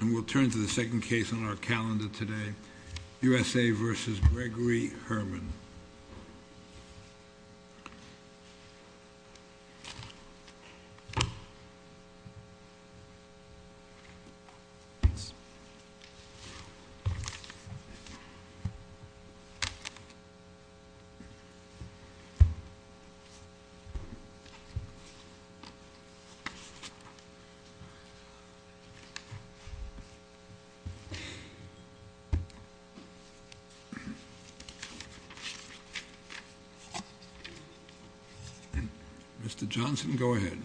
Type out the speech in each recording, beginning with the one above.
And we'll turn to the second case on our calendar today, USA v. Gregory Herman. Mr. Johnson, go ahead.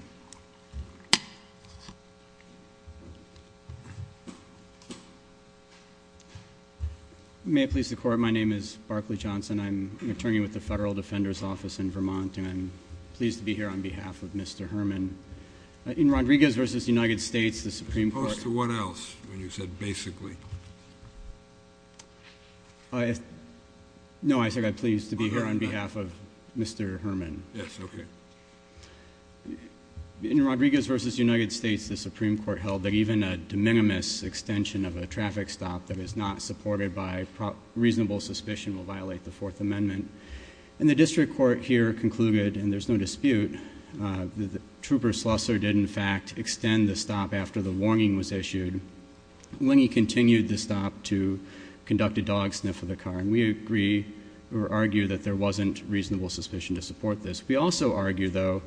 May it please the Court, my name is Barclay Johnson, I'm an attorney with the Federal Defender's Office in Vermont and I'm pleased to be here on behalf of Mr. Herman. In Rodriguez v. United States, the Supreme Court held that even a de minimis extension of a traffic stop that is not supported by reasonable suspicion will violate the Fourth Amendment. And the District Court here concluded, and there's no dispute, that Trooper Slusser did in fact extend the stop after the warning was issued when he continued the stop to conduct a dog sniff of the car. And we agree or argue that there wasn't reasonable suspicion to support this. We also argue, though,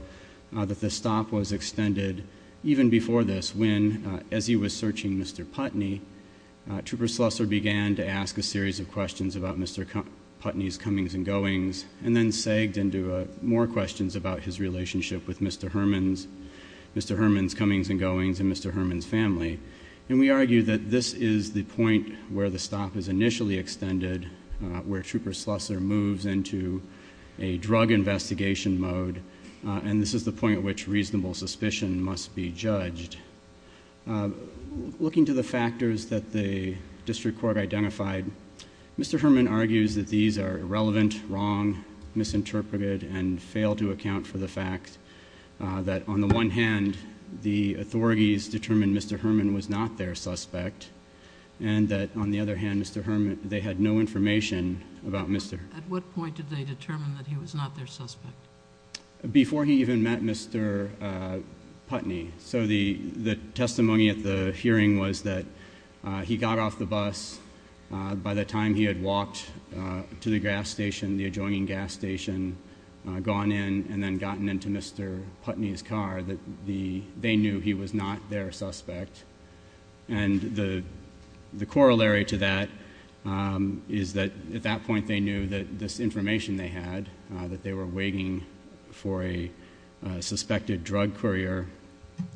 that the stop was extended even before this when, as he was searching Mr. Putney, Trooper Slusser began to ask a series of questions about Mr. Putney's comings and goings, and then sagged into more questions about his relationship with Mr. Herman's comings and goings and Mr. Herman's family. And we argue that this is the point where the stop is initially extended, where Trooper Slusser moves into a drug investigation mode, and this is the point at which reasonable suspicion must be judged. Looking to the factors that the District Court identified, Mr. Herman argues that these are irrelevant, wrong, misinterpreted, and fail to account for the fact that on the one hand, the authorities determined Mr. Herman was not their suspect, and that on the other hand, they had no information about Mr.... At what point did they determine that he was not their suspect? Before he even met Mr. Putney. So the testimony at the hearing was that he got off the bus. By the time he had walked to the gas station, the adjoining gas station, gone in, and then gotten into Mr. Putney's car, that they knew he was not their suspect. And the corollary to that is that at that point they knew that this information they had, that they were waiting for a suspected drug courier,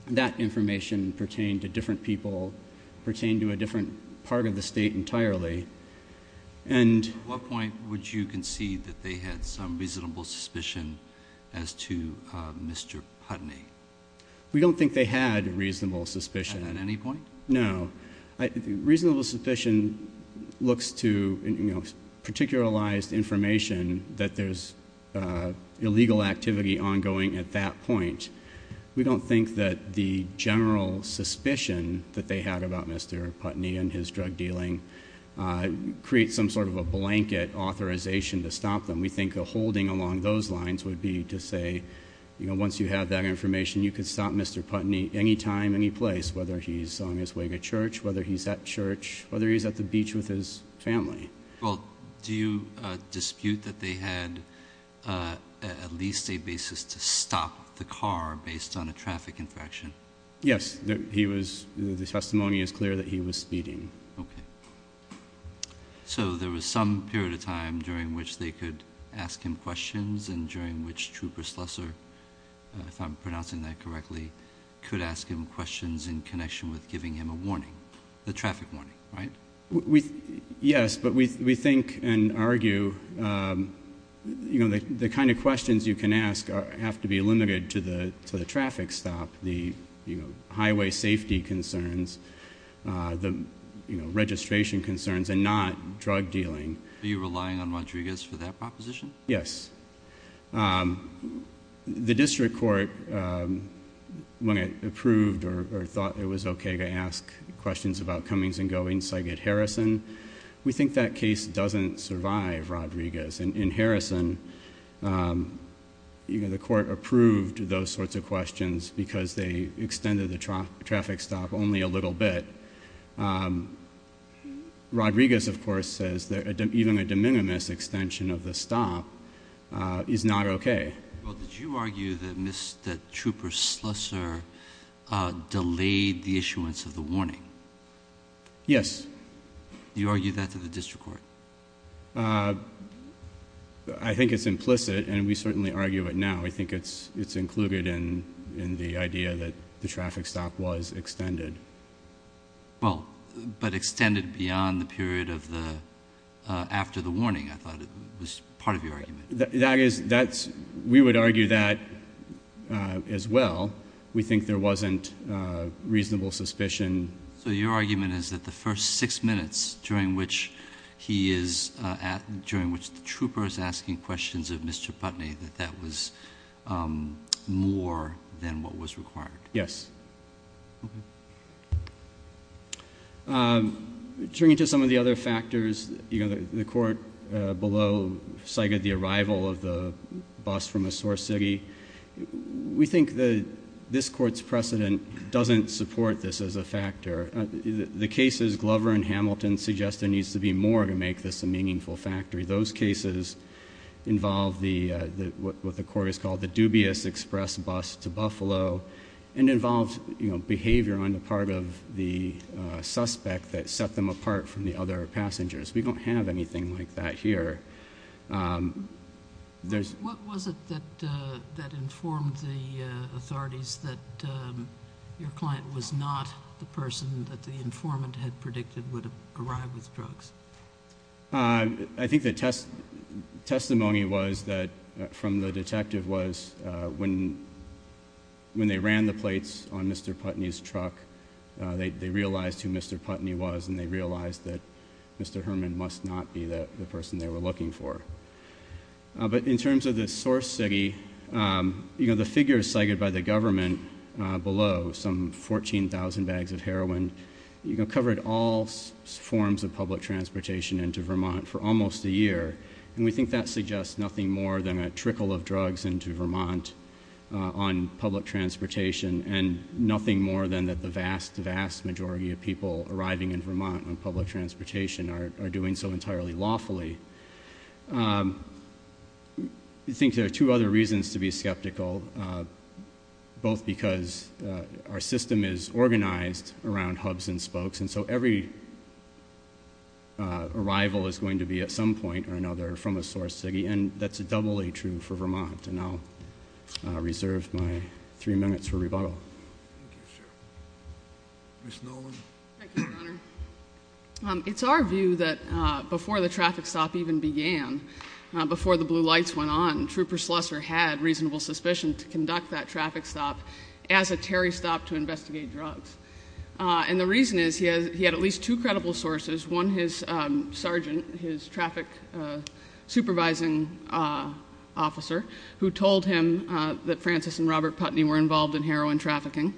that information pertained to a different part of the state entirely. And... At what point would you concede that they had some reasonable suspicion as to Mr. Putney? We don't think they had reasonable suspicion. At any point? No. Reasonable suspicion looks to, you know, particularized information that there's illegal activity ongoing at that point. We don't think that the general suspicion that they had about Mr. Putney and his drug dealing creates some sort of a blanket authorization to stop them. We think a holding along those lines would be to say, you know, once you have that information, you can stop Mr. Putney any time, any place, whether he's on his way to church, whether he's at church, whether he's at the beach with his family. Well, do you dispute that they had at least a basis to stop the car based on a traffic infraction? Yes. He was... the testimony is clear that he was speeding. Okay. So, there was some period of time during which they could ask him questions and during which Trooper Slusser, if I'm pronouncing that correctly, could ask him questions in connection with giving him a warning, a traffic warning, right? Yes, but we think and argue, you know, the kind of questions you can ask have to be limited to the traffic stop, the, you know, highway safety concerns, the, you know, registration concerns and not drug dealing. Are you relying on Rodriguez for that proposition? Yes. The district court, when it approved or thought it was okay to ask questions about comings and goings like at Harrison, we think that case doesn't survive Rodriguez. In Harrison, you know, the court approved those sorts of questions because they extended the traffic stop only a little bit. Rodriguez, of course, says that even a de minimis extension of the stop is not okay. Well, did you argue that Mr. Trooper Slusser delayed the issuance of the warning? Yes. You argued that to the district court? I think it's implicit and we certainly argue it now. I think it's included in the idea that the traffic stop was extended. Well, but extended beyond the period of the, after the warning, I thought it was part of your argument. That is, that's, we would argue that as well. We think there wasn't reasonable suspicion. So your argument is that the first six minutes during which he is at, during which the trooper is asking questions of Mr. Putney, that that was more than what was required? Yes. Okay. Turning to some of the other factors, you know, the court below cited the arrival of the bus from a source city. We think that this court's precedent doesn't support this as a factor. The cases Glover and Hamilton suggest there needs to be more to make this a meaningful factory. Those cases involve the, what the court has called the dubious express bus to Buffalo and involves, you know, behavior on the part of the suspect that set them apart from the other passengers. We don't have anything like that here. What was it that informed the authorities that your client was not the person that the informant had predicted would arrive with drugs? I think the testimony was that, from the detective, was when they ran the plates on Mr. Putney's truck, they realized who Mr. Putney was and they realized that Mr. Herman must not be the person they were looking for. But in terms of the source city, you know, the figures cited by the government below, some 14,000 bags of heroin, you know, covered all forms of public transportation into Vermont for almost a year. And we think that suggests nothing more than a trickle of drugs into Vermont on public transportation and nothing more than that the vast, vast majority of people arriving in Vermont on public transportation are doing so entirely lawfully. I think there are two other reasons to be skeptical, both because our system is organized around hubs and spokes, and so every arrival is going to be at some point or another from a source city, and that's doubly true for Vermont, and I'll reserve my three minutes for rebuttal. Thank you, sir. Ms. Nolan? Thank you, Your Honor. It's our view that before the traffic stop even began, before the blue lights went on, Trooper Slusser had reasonable suspicion to conduct that traffic stop as a Terry stop to investigate drugs. And the reason is he had at least two credible sources, one his sergeant, his traffic supervising officer, who told him that Francis and Robert Putney were involved in heroin trafficking,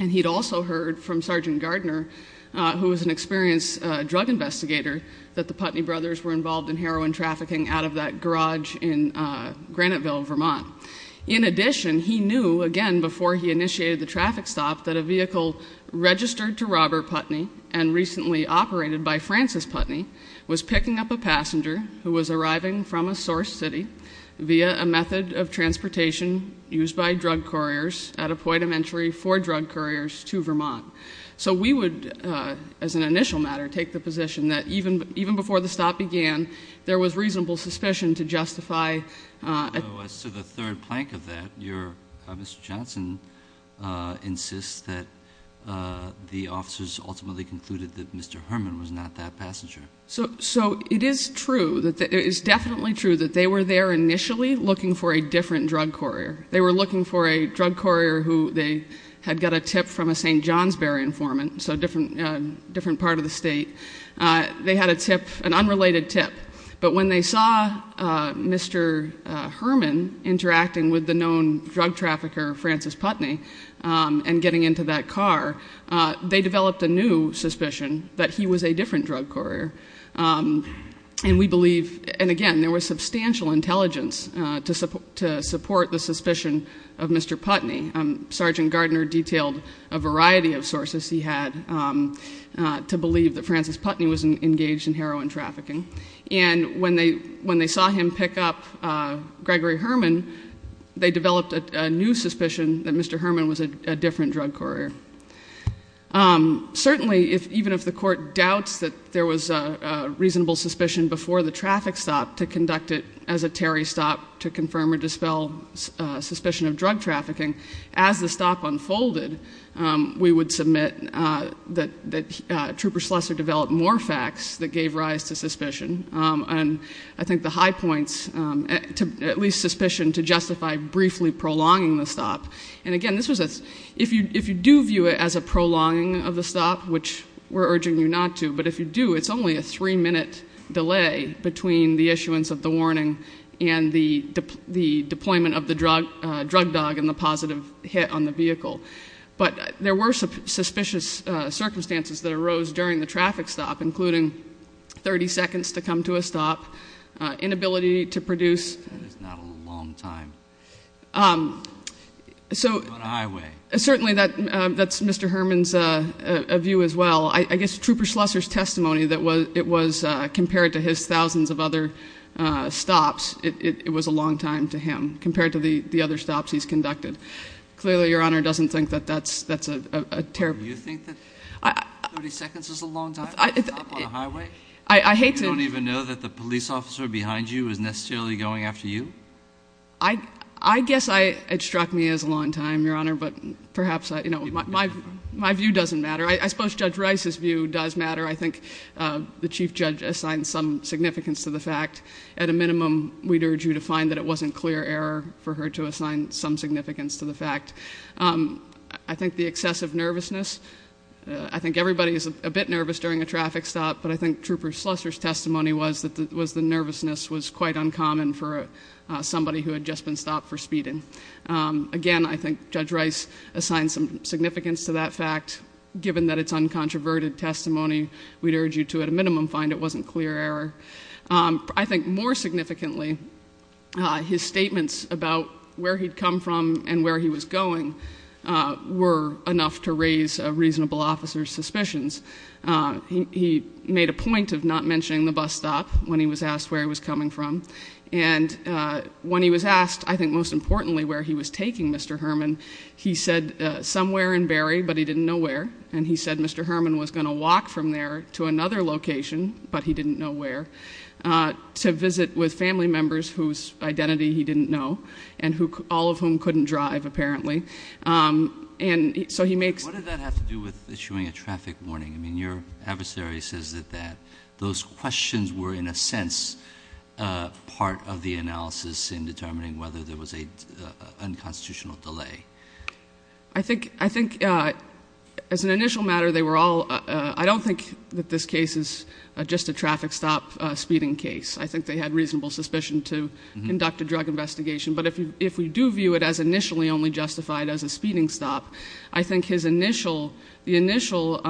and he'd also heard from Sergeant Gardner, who was an experienced drug investigator, that the Putney brothers were involved in heroin trafficking out of that garage in Graniteville, Vermont. In addition, he knew, again, before he initiated the traffic stop, that a vehicle registered to Robert Putney and recently operated by Francis Putney was picking up a passenger who was arriving from a source city via a method of transportation used by drug couriers at a point of entry for drug couriers to Vermont. So we would, as an initial matter, take the position that even before the stop began, there was reasonable suspicion to justify— So as to the third plank of that, Mr. Johnson insists that the officers ultimately concluded that Mr. Herman was not that passenger. So it is true, it is definitely true, that they were there initially looking for a different drug courier. They were looking for a drug courier who they had got a tip from a St. Johnsbury informant, so a different part of the state. They had a tip, an unrelated tip. But when they saw Mr. Herman interacting with the known drug trafficker, Francis Putney, and getting into that car, they developed a new suspicion that he was a different drug courier. And we believe—and again, there was substantial intelligence to support the suspicion of Mr. Putney. Sergeant Gardner detailed a variety of sources he had to believe that Francis Putney was engaged in heroin trafficking. And when they saw him pick up Gregory Herman, they developed a new suspicion that Mr. Herman was a different drug courier. Certainly, even if the court doubts that there was a reasonable suspicion before the traffic stop to conduct it as a Terry stop to confirm or dispel suspicion of drug trafficking, as the stop unfolded, we would submit that Trooper Schlesser developed more facts that gave rise to suspicion. And I think the high points—at least suspicion to justify briefly prolonging the stop. And again, this was a—if you do view it as a prolonging of the stop, which we're urging you not to, but if you do, it's only a three-minute delay between the issuance of the warning and the deployment of the drug dog and the positive hit on the vehicle. But there were suspicious circumstances that arose during the traffic stop, including 30 seconds to come to a stop, inability to produce— On a highway. Certainly, that's Mr. Herman's view as well. I guess Trooper Schlesser's testimony that it was, compared to his thousands of other stops, it was a long time to him, compared to the other stops he's conducted. Clearly, Your Honor doesn't think that that's a terrible— You think that 30 seconds is a long time to stop on a highway? I hate to— You don't even know that the police officer behind you is necessarily going after you? I guess it struck me as a long time, Your Honor, but perhaps my view doesn't matter. I suppose Judge Rice's view does matter. I think the Chief Judge assigned some significance to the fact. At a minimum, we'd urge you to find that it wasn't clear error for her to assign some significance to the fact. I think the excessive nervousness—I think everybody is a bit nervous during a traffic stop, but I think Trooper Schlesser's testimony was that the nervousness was quite uncommon for somebody who had just been stopped for speeding. Again, I think Judge Rice assigned some significance to that fact. Given that it's uncontroverted testimony, we'd urge you to, at a minimum, find it wasn't clear error. I think more significantly, his statements about where he'd come from and where he was going were enough to raise a reasonable officer's suspicions. He made a point of not mentioning the bus stop when he was asked where he was coming from. When he was asked, I think most importantly, where he was taking Mr. Herman, he said, somewhere in Barrie, but he didn't know where. He said Mr. Herman was going to walk from there to another location, but he didn't know where, to visit with family members whose identity he didn't know, all of whom couldn't drive apparently. What did that have to do with issuing a traffic warning? Your adversary says that those questions were, in a sense, part of the analysis in determining whether there was an unconstitutional delay. I think, as an initial matter, they were all, I don't think that this case is just a traffic stop speeding case. I think they had reasonable suspicion to conduct a drug investigation, but if we do view it as initially only justified as a speeding stop, I think his initial, the initial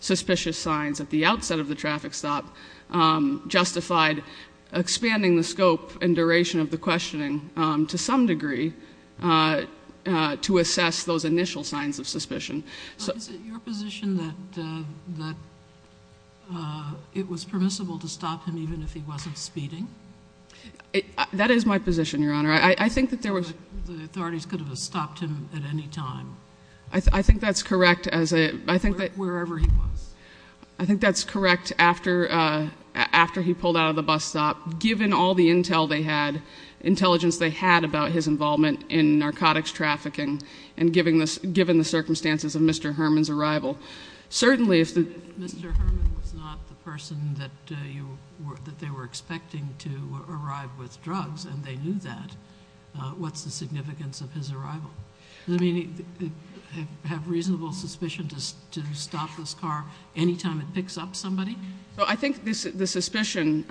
suspicious signs at the outset of the traffic stop justified expanding the scope and duration of the questioning to some degree to assess those initial signs of suspicion. Is it your position that it was permissible to stop him even if he wasn't speeding? That is my position, Your Honor. I think that there was... The authorities could have stopped him at any time. I think that's correct as a... Wherever he was. I think that's correct after he pulled out of the bus stop, given all the intel they had, intelligence they had about his involvement in narcotics trafficking, and given the circumstances of Mr. Herman's arrival. Certainly if the... What's the significance of his arrival? Does it mean they have reasonable suspicion to stop this car any time it picks up somebody? I think the suspicion,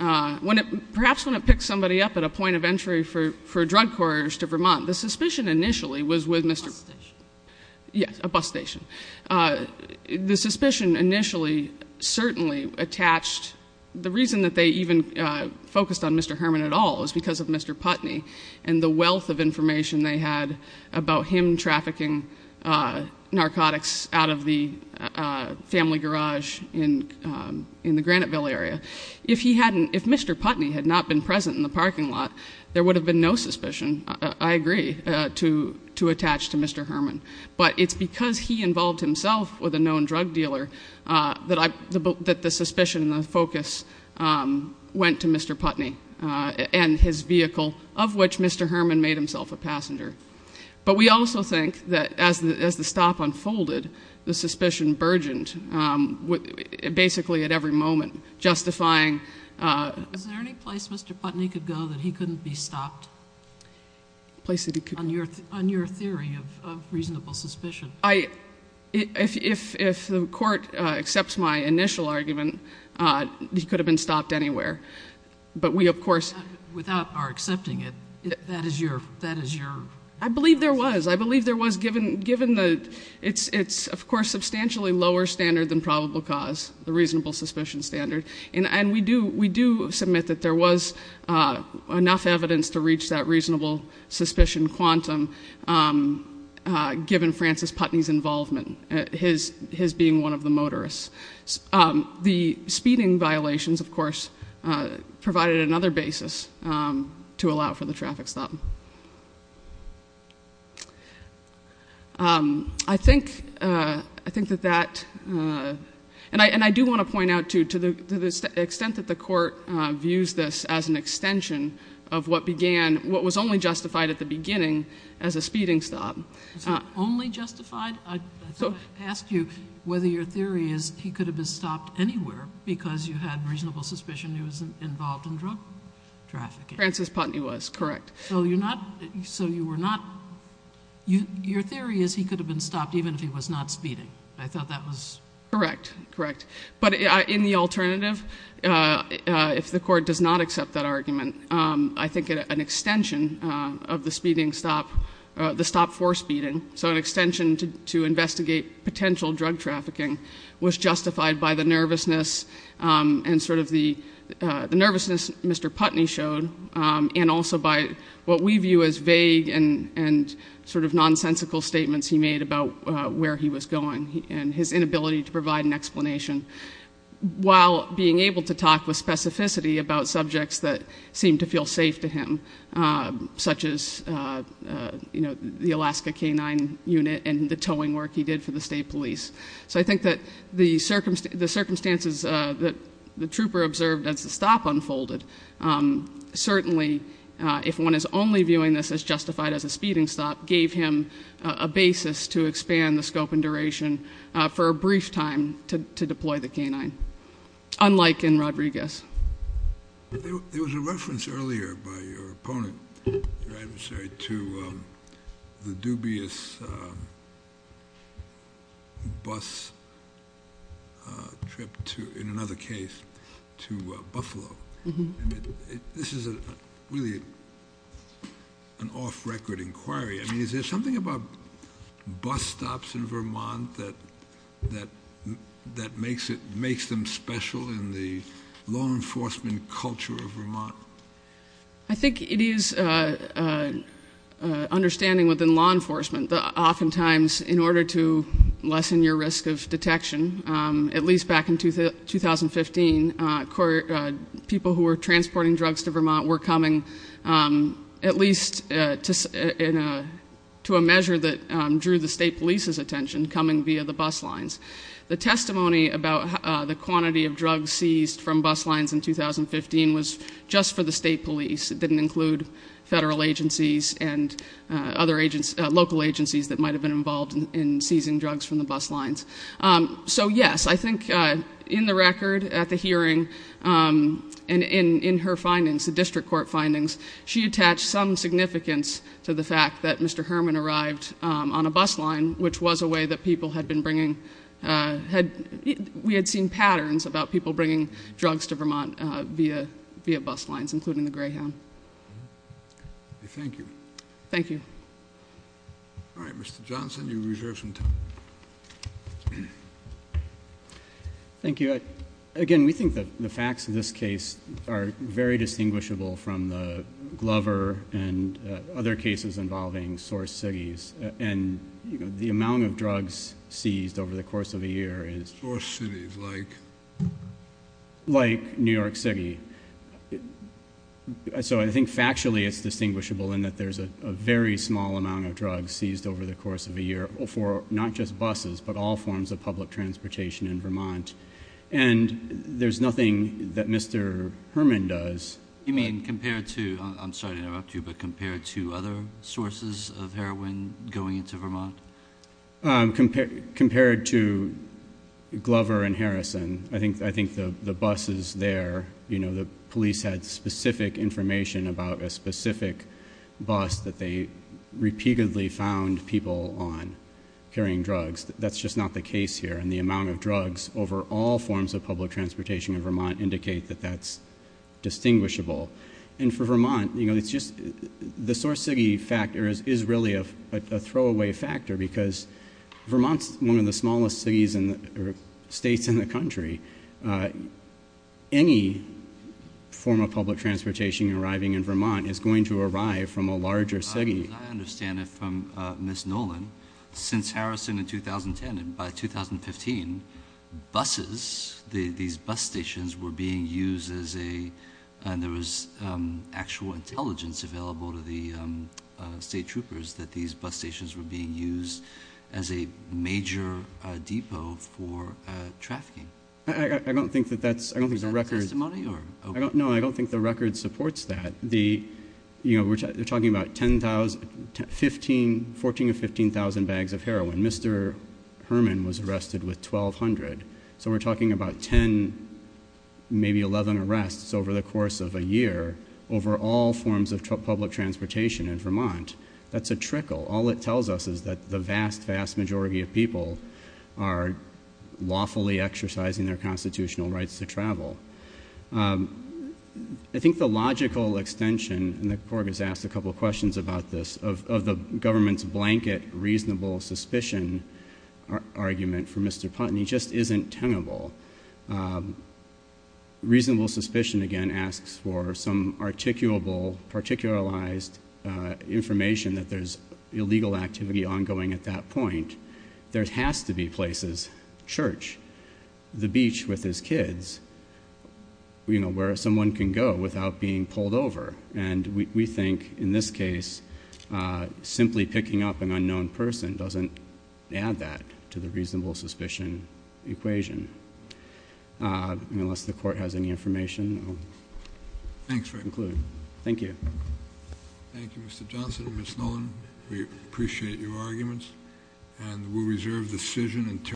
perhaps when it picks somebody up at a point of entry for drug couriers to Vermont, the suspicion initially was with Mr.... Bus station. Yes, a bus station. The suspicion initially certainly attached, the reason that they even focused on Mr. Herman at all is because of Mr. Putney, and the wealth of information they had about him trafficking narcotics out of the family garage in the Graniteville area. If he hadn't... If Mr. Putney had not been present in the parking lot, there would have been no suspicion, I agree, to attach to Mr. Herman. But it's because he involved himself with a known drug dealer that the suspicion and Mr. Putney and his vehicle, of which Mr. Herman made himself a passenger. But we also think that as the stop unfolded, the suspicion burgeoned basically at every moment justifying... Is there any place Mr. Putney could go that he couldn't be stopped? Place that he could... On your theory of reasonable suspicion. If the court accepts my initial argument, he could have been stopped anywhere. But we of course... Without our accepting it, that is your... I believe there was. I believe there was given the... It's of course substantially lower standard than probable cause, the reasonable suspicion standard. And we do submit that there was enough evidence to reach that reasonable suspicion quantum given Francis Putney's involvement, his being one of the motorists. The speeding violations, of course, provided another basis to allow for the traffic stop. I think that that... And I do want to point out too, to the extent that the court views this as an extension of what began, what was only justified at the beginning as a speeding stop. Was it only justified? I asked you whether your theory is he could have been stopped anywhere because you had reasonable suspicion he was involved in drug trafficking. Francis Putney was, correct. So you're not... So you were not... Your theory is he could have been stopped even if he was not speeding. I thought that was... Correct. Correct. But in the alternative, if the court does not accept that argument, I think an extension of the speeding stop, the stop for speeding, so an extension to investigate potential drug trafficking was justified by the nervousness and sort of the nervousness Mr. Putney showed and also by what we view as vague and sort of nonsensical statements he made about where he was going and his inability to provide an explanation while being able to talk with specificity about subjects that seemed to feel safe to him, such as the Alaska K-9 unit and the towing work he did for the state police. So I think that the circumstances that the trooper observed as the stop unfolded, certainly if one is only viewing this as justified as a speeding stop, gave him a basis to expand the scope and duration for a brief time to deploy the K-9, unlike in Rodriguez. There was a reference earlier by your opponent, your adversary, to the dubious bus trip to, in another case, to Buffalo. This is really an off-record inquiry. I mean, is there something about bus stops in Vermont that makes them special in the law enforcement culture of Vermont? I think it is an understanding within law enforcement that oftentimes in order to lessen your risk of detection, at least back in 2015, people who were transporting drugs to Vermont were coming at least to a measure that drew the state police's attention, coming via the bus lines. The testimony about the quantity of drugs seized from bus lines in 2015 was just for the state police. It didn't include federal agencies and other local agencies that might have been involved in seizing drugs from the bus lines. So yes, I think in the record, at the hearing, and in her findings, the district court findings, she attached some significance to the fact that Mr. Herman arrived on a bus line, which was a way that people had been bringing—we had seen patterns about people bringing drugs to Vermont via bus lines, including the Greyhound. Thank you. Thank you. All right. Thank you. Again, we think the facts of this case are very distinguishable from the Glover and other cases involving source cities, and the amount of drugs seized over the course of a year is— Source cities, like? Like New York City. So I think factually it's distinguishable in that there's a very small amount of drugs seized over the course of a year for not just buses, but all forms of public transportation in Vermont, and there's nothing that Mr. Herman does— You mean compared to—I'm sorry to interrupt you, but compared to other sources of heroin going into Vermont? Compared to Glover and Harrison, I think the buses there, you know, the police had specific information about a specific bus that they repeatedly found people on carrying drugs. That's just not the case here, and the amount of drugs over all forms of public transportation in Vermont indicate that that's distinguishable. And for Vermont, you know, it's just—the source city factor is really a throwaway factor because Vermont's one of the smallest cities or states in the country. Any form of public transportation arriving in Vermont is going to arrive from a larger city. As I understand it from Ms. Nolan, since Harrison in 2010 and by 2015, buses, these bus stations were being used as a—and there was actual intelligence available to the state troopers that these bus stations were being used as a major depot for trafficking. I don't think that that's—I don't think the record— Is that the testimony, or— No, I don't think the record supports that. You know, we're talking about 10,000—14,000 to 15,000 bags of heroin. Mr. Herman was arrested with 1,200. So we're talking about 10, maybe 11 arrests over the course of a year over all forms of public transportation in Vermont. That's a trickle. All it tells us is that the vast, vast majority of people are lawfully exercising their constitutional rights to travel. I think the logical extension, and the court has asked a couple questions about this, of the government's blanket reasonable suspicion argument for Mr. Putnam, he just isn't tenable. Reasonable suspicion, again, asks for some articulable, particularized information that there's illegal activity ongoing at that point. There has to be places, church, the beach with his kids, where someone can go without being pulled over. And we think, in this case, simply picking up an unknown person doesn't add that to the reasonable suspicion equation. Unless the court has any information, I'll conclude. Thank you. Thank you, Mr. Johnson and Ms. Nolan. We appreciate your arguments. And we'll reserve the decision until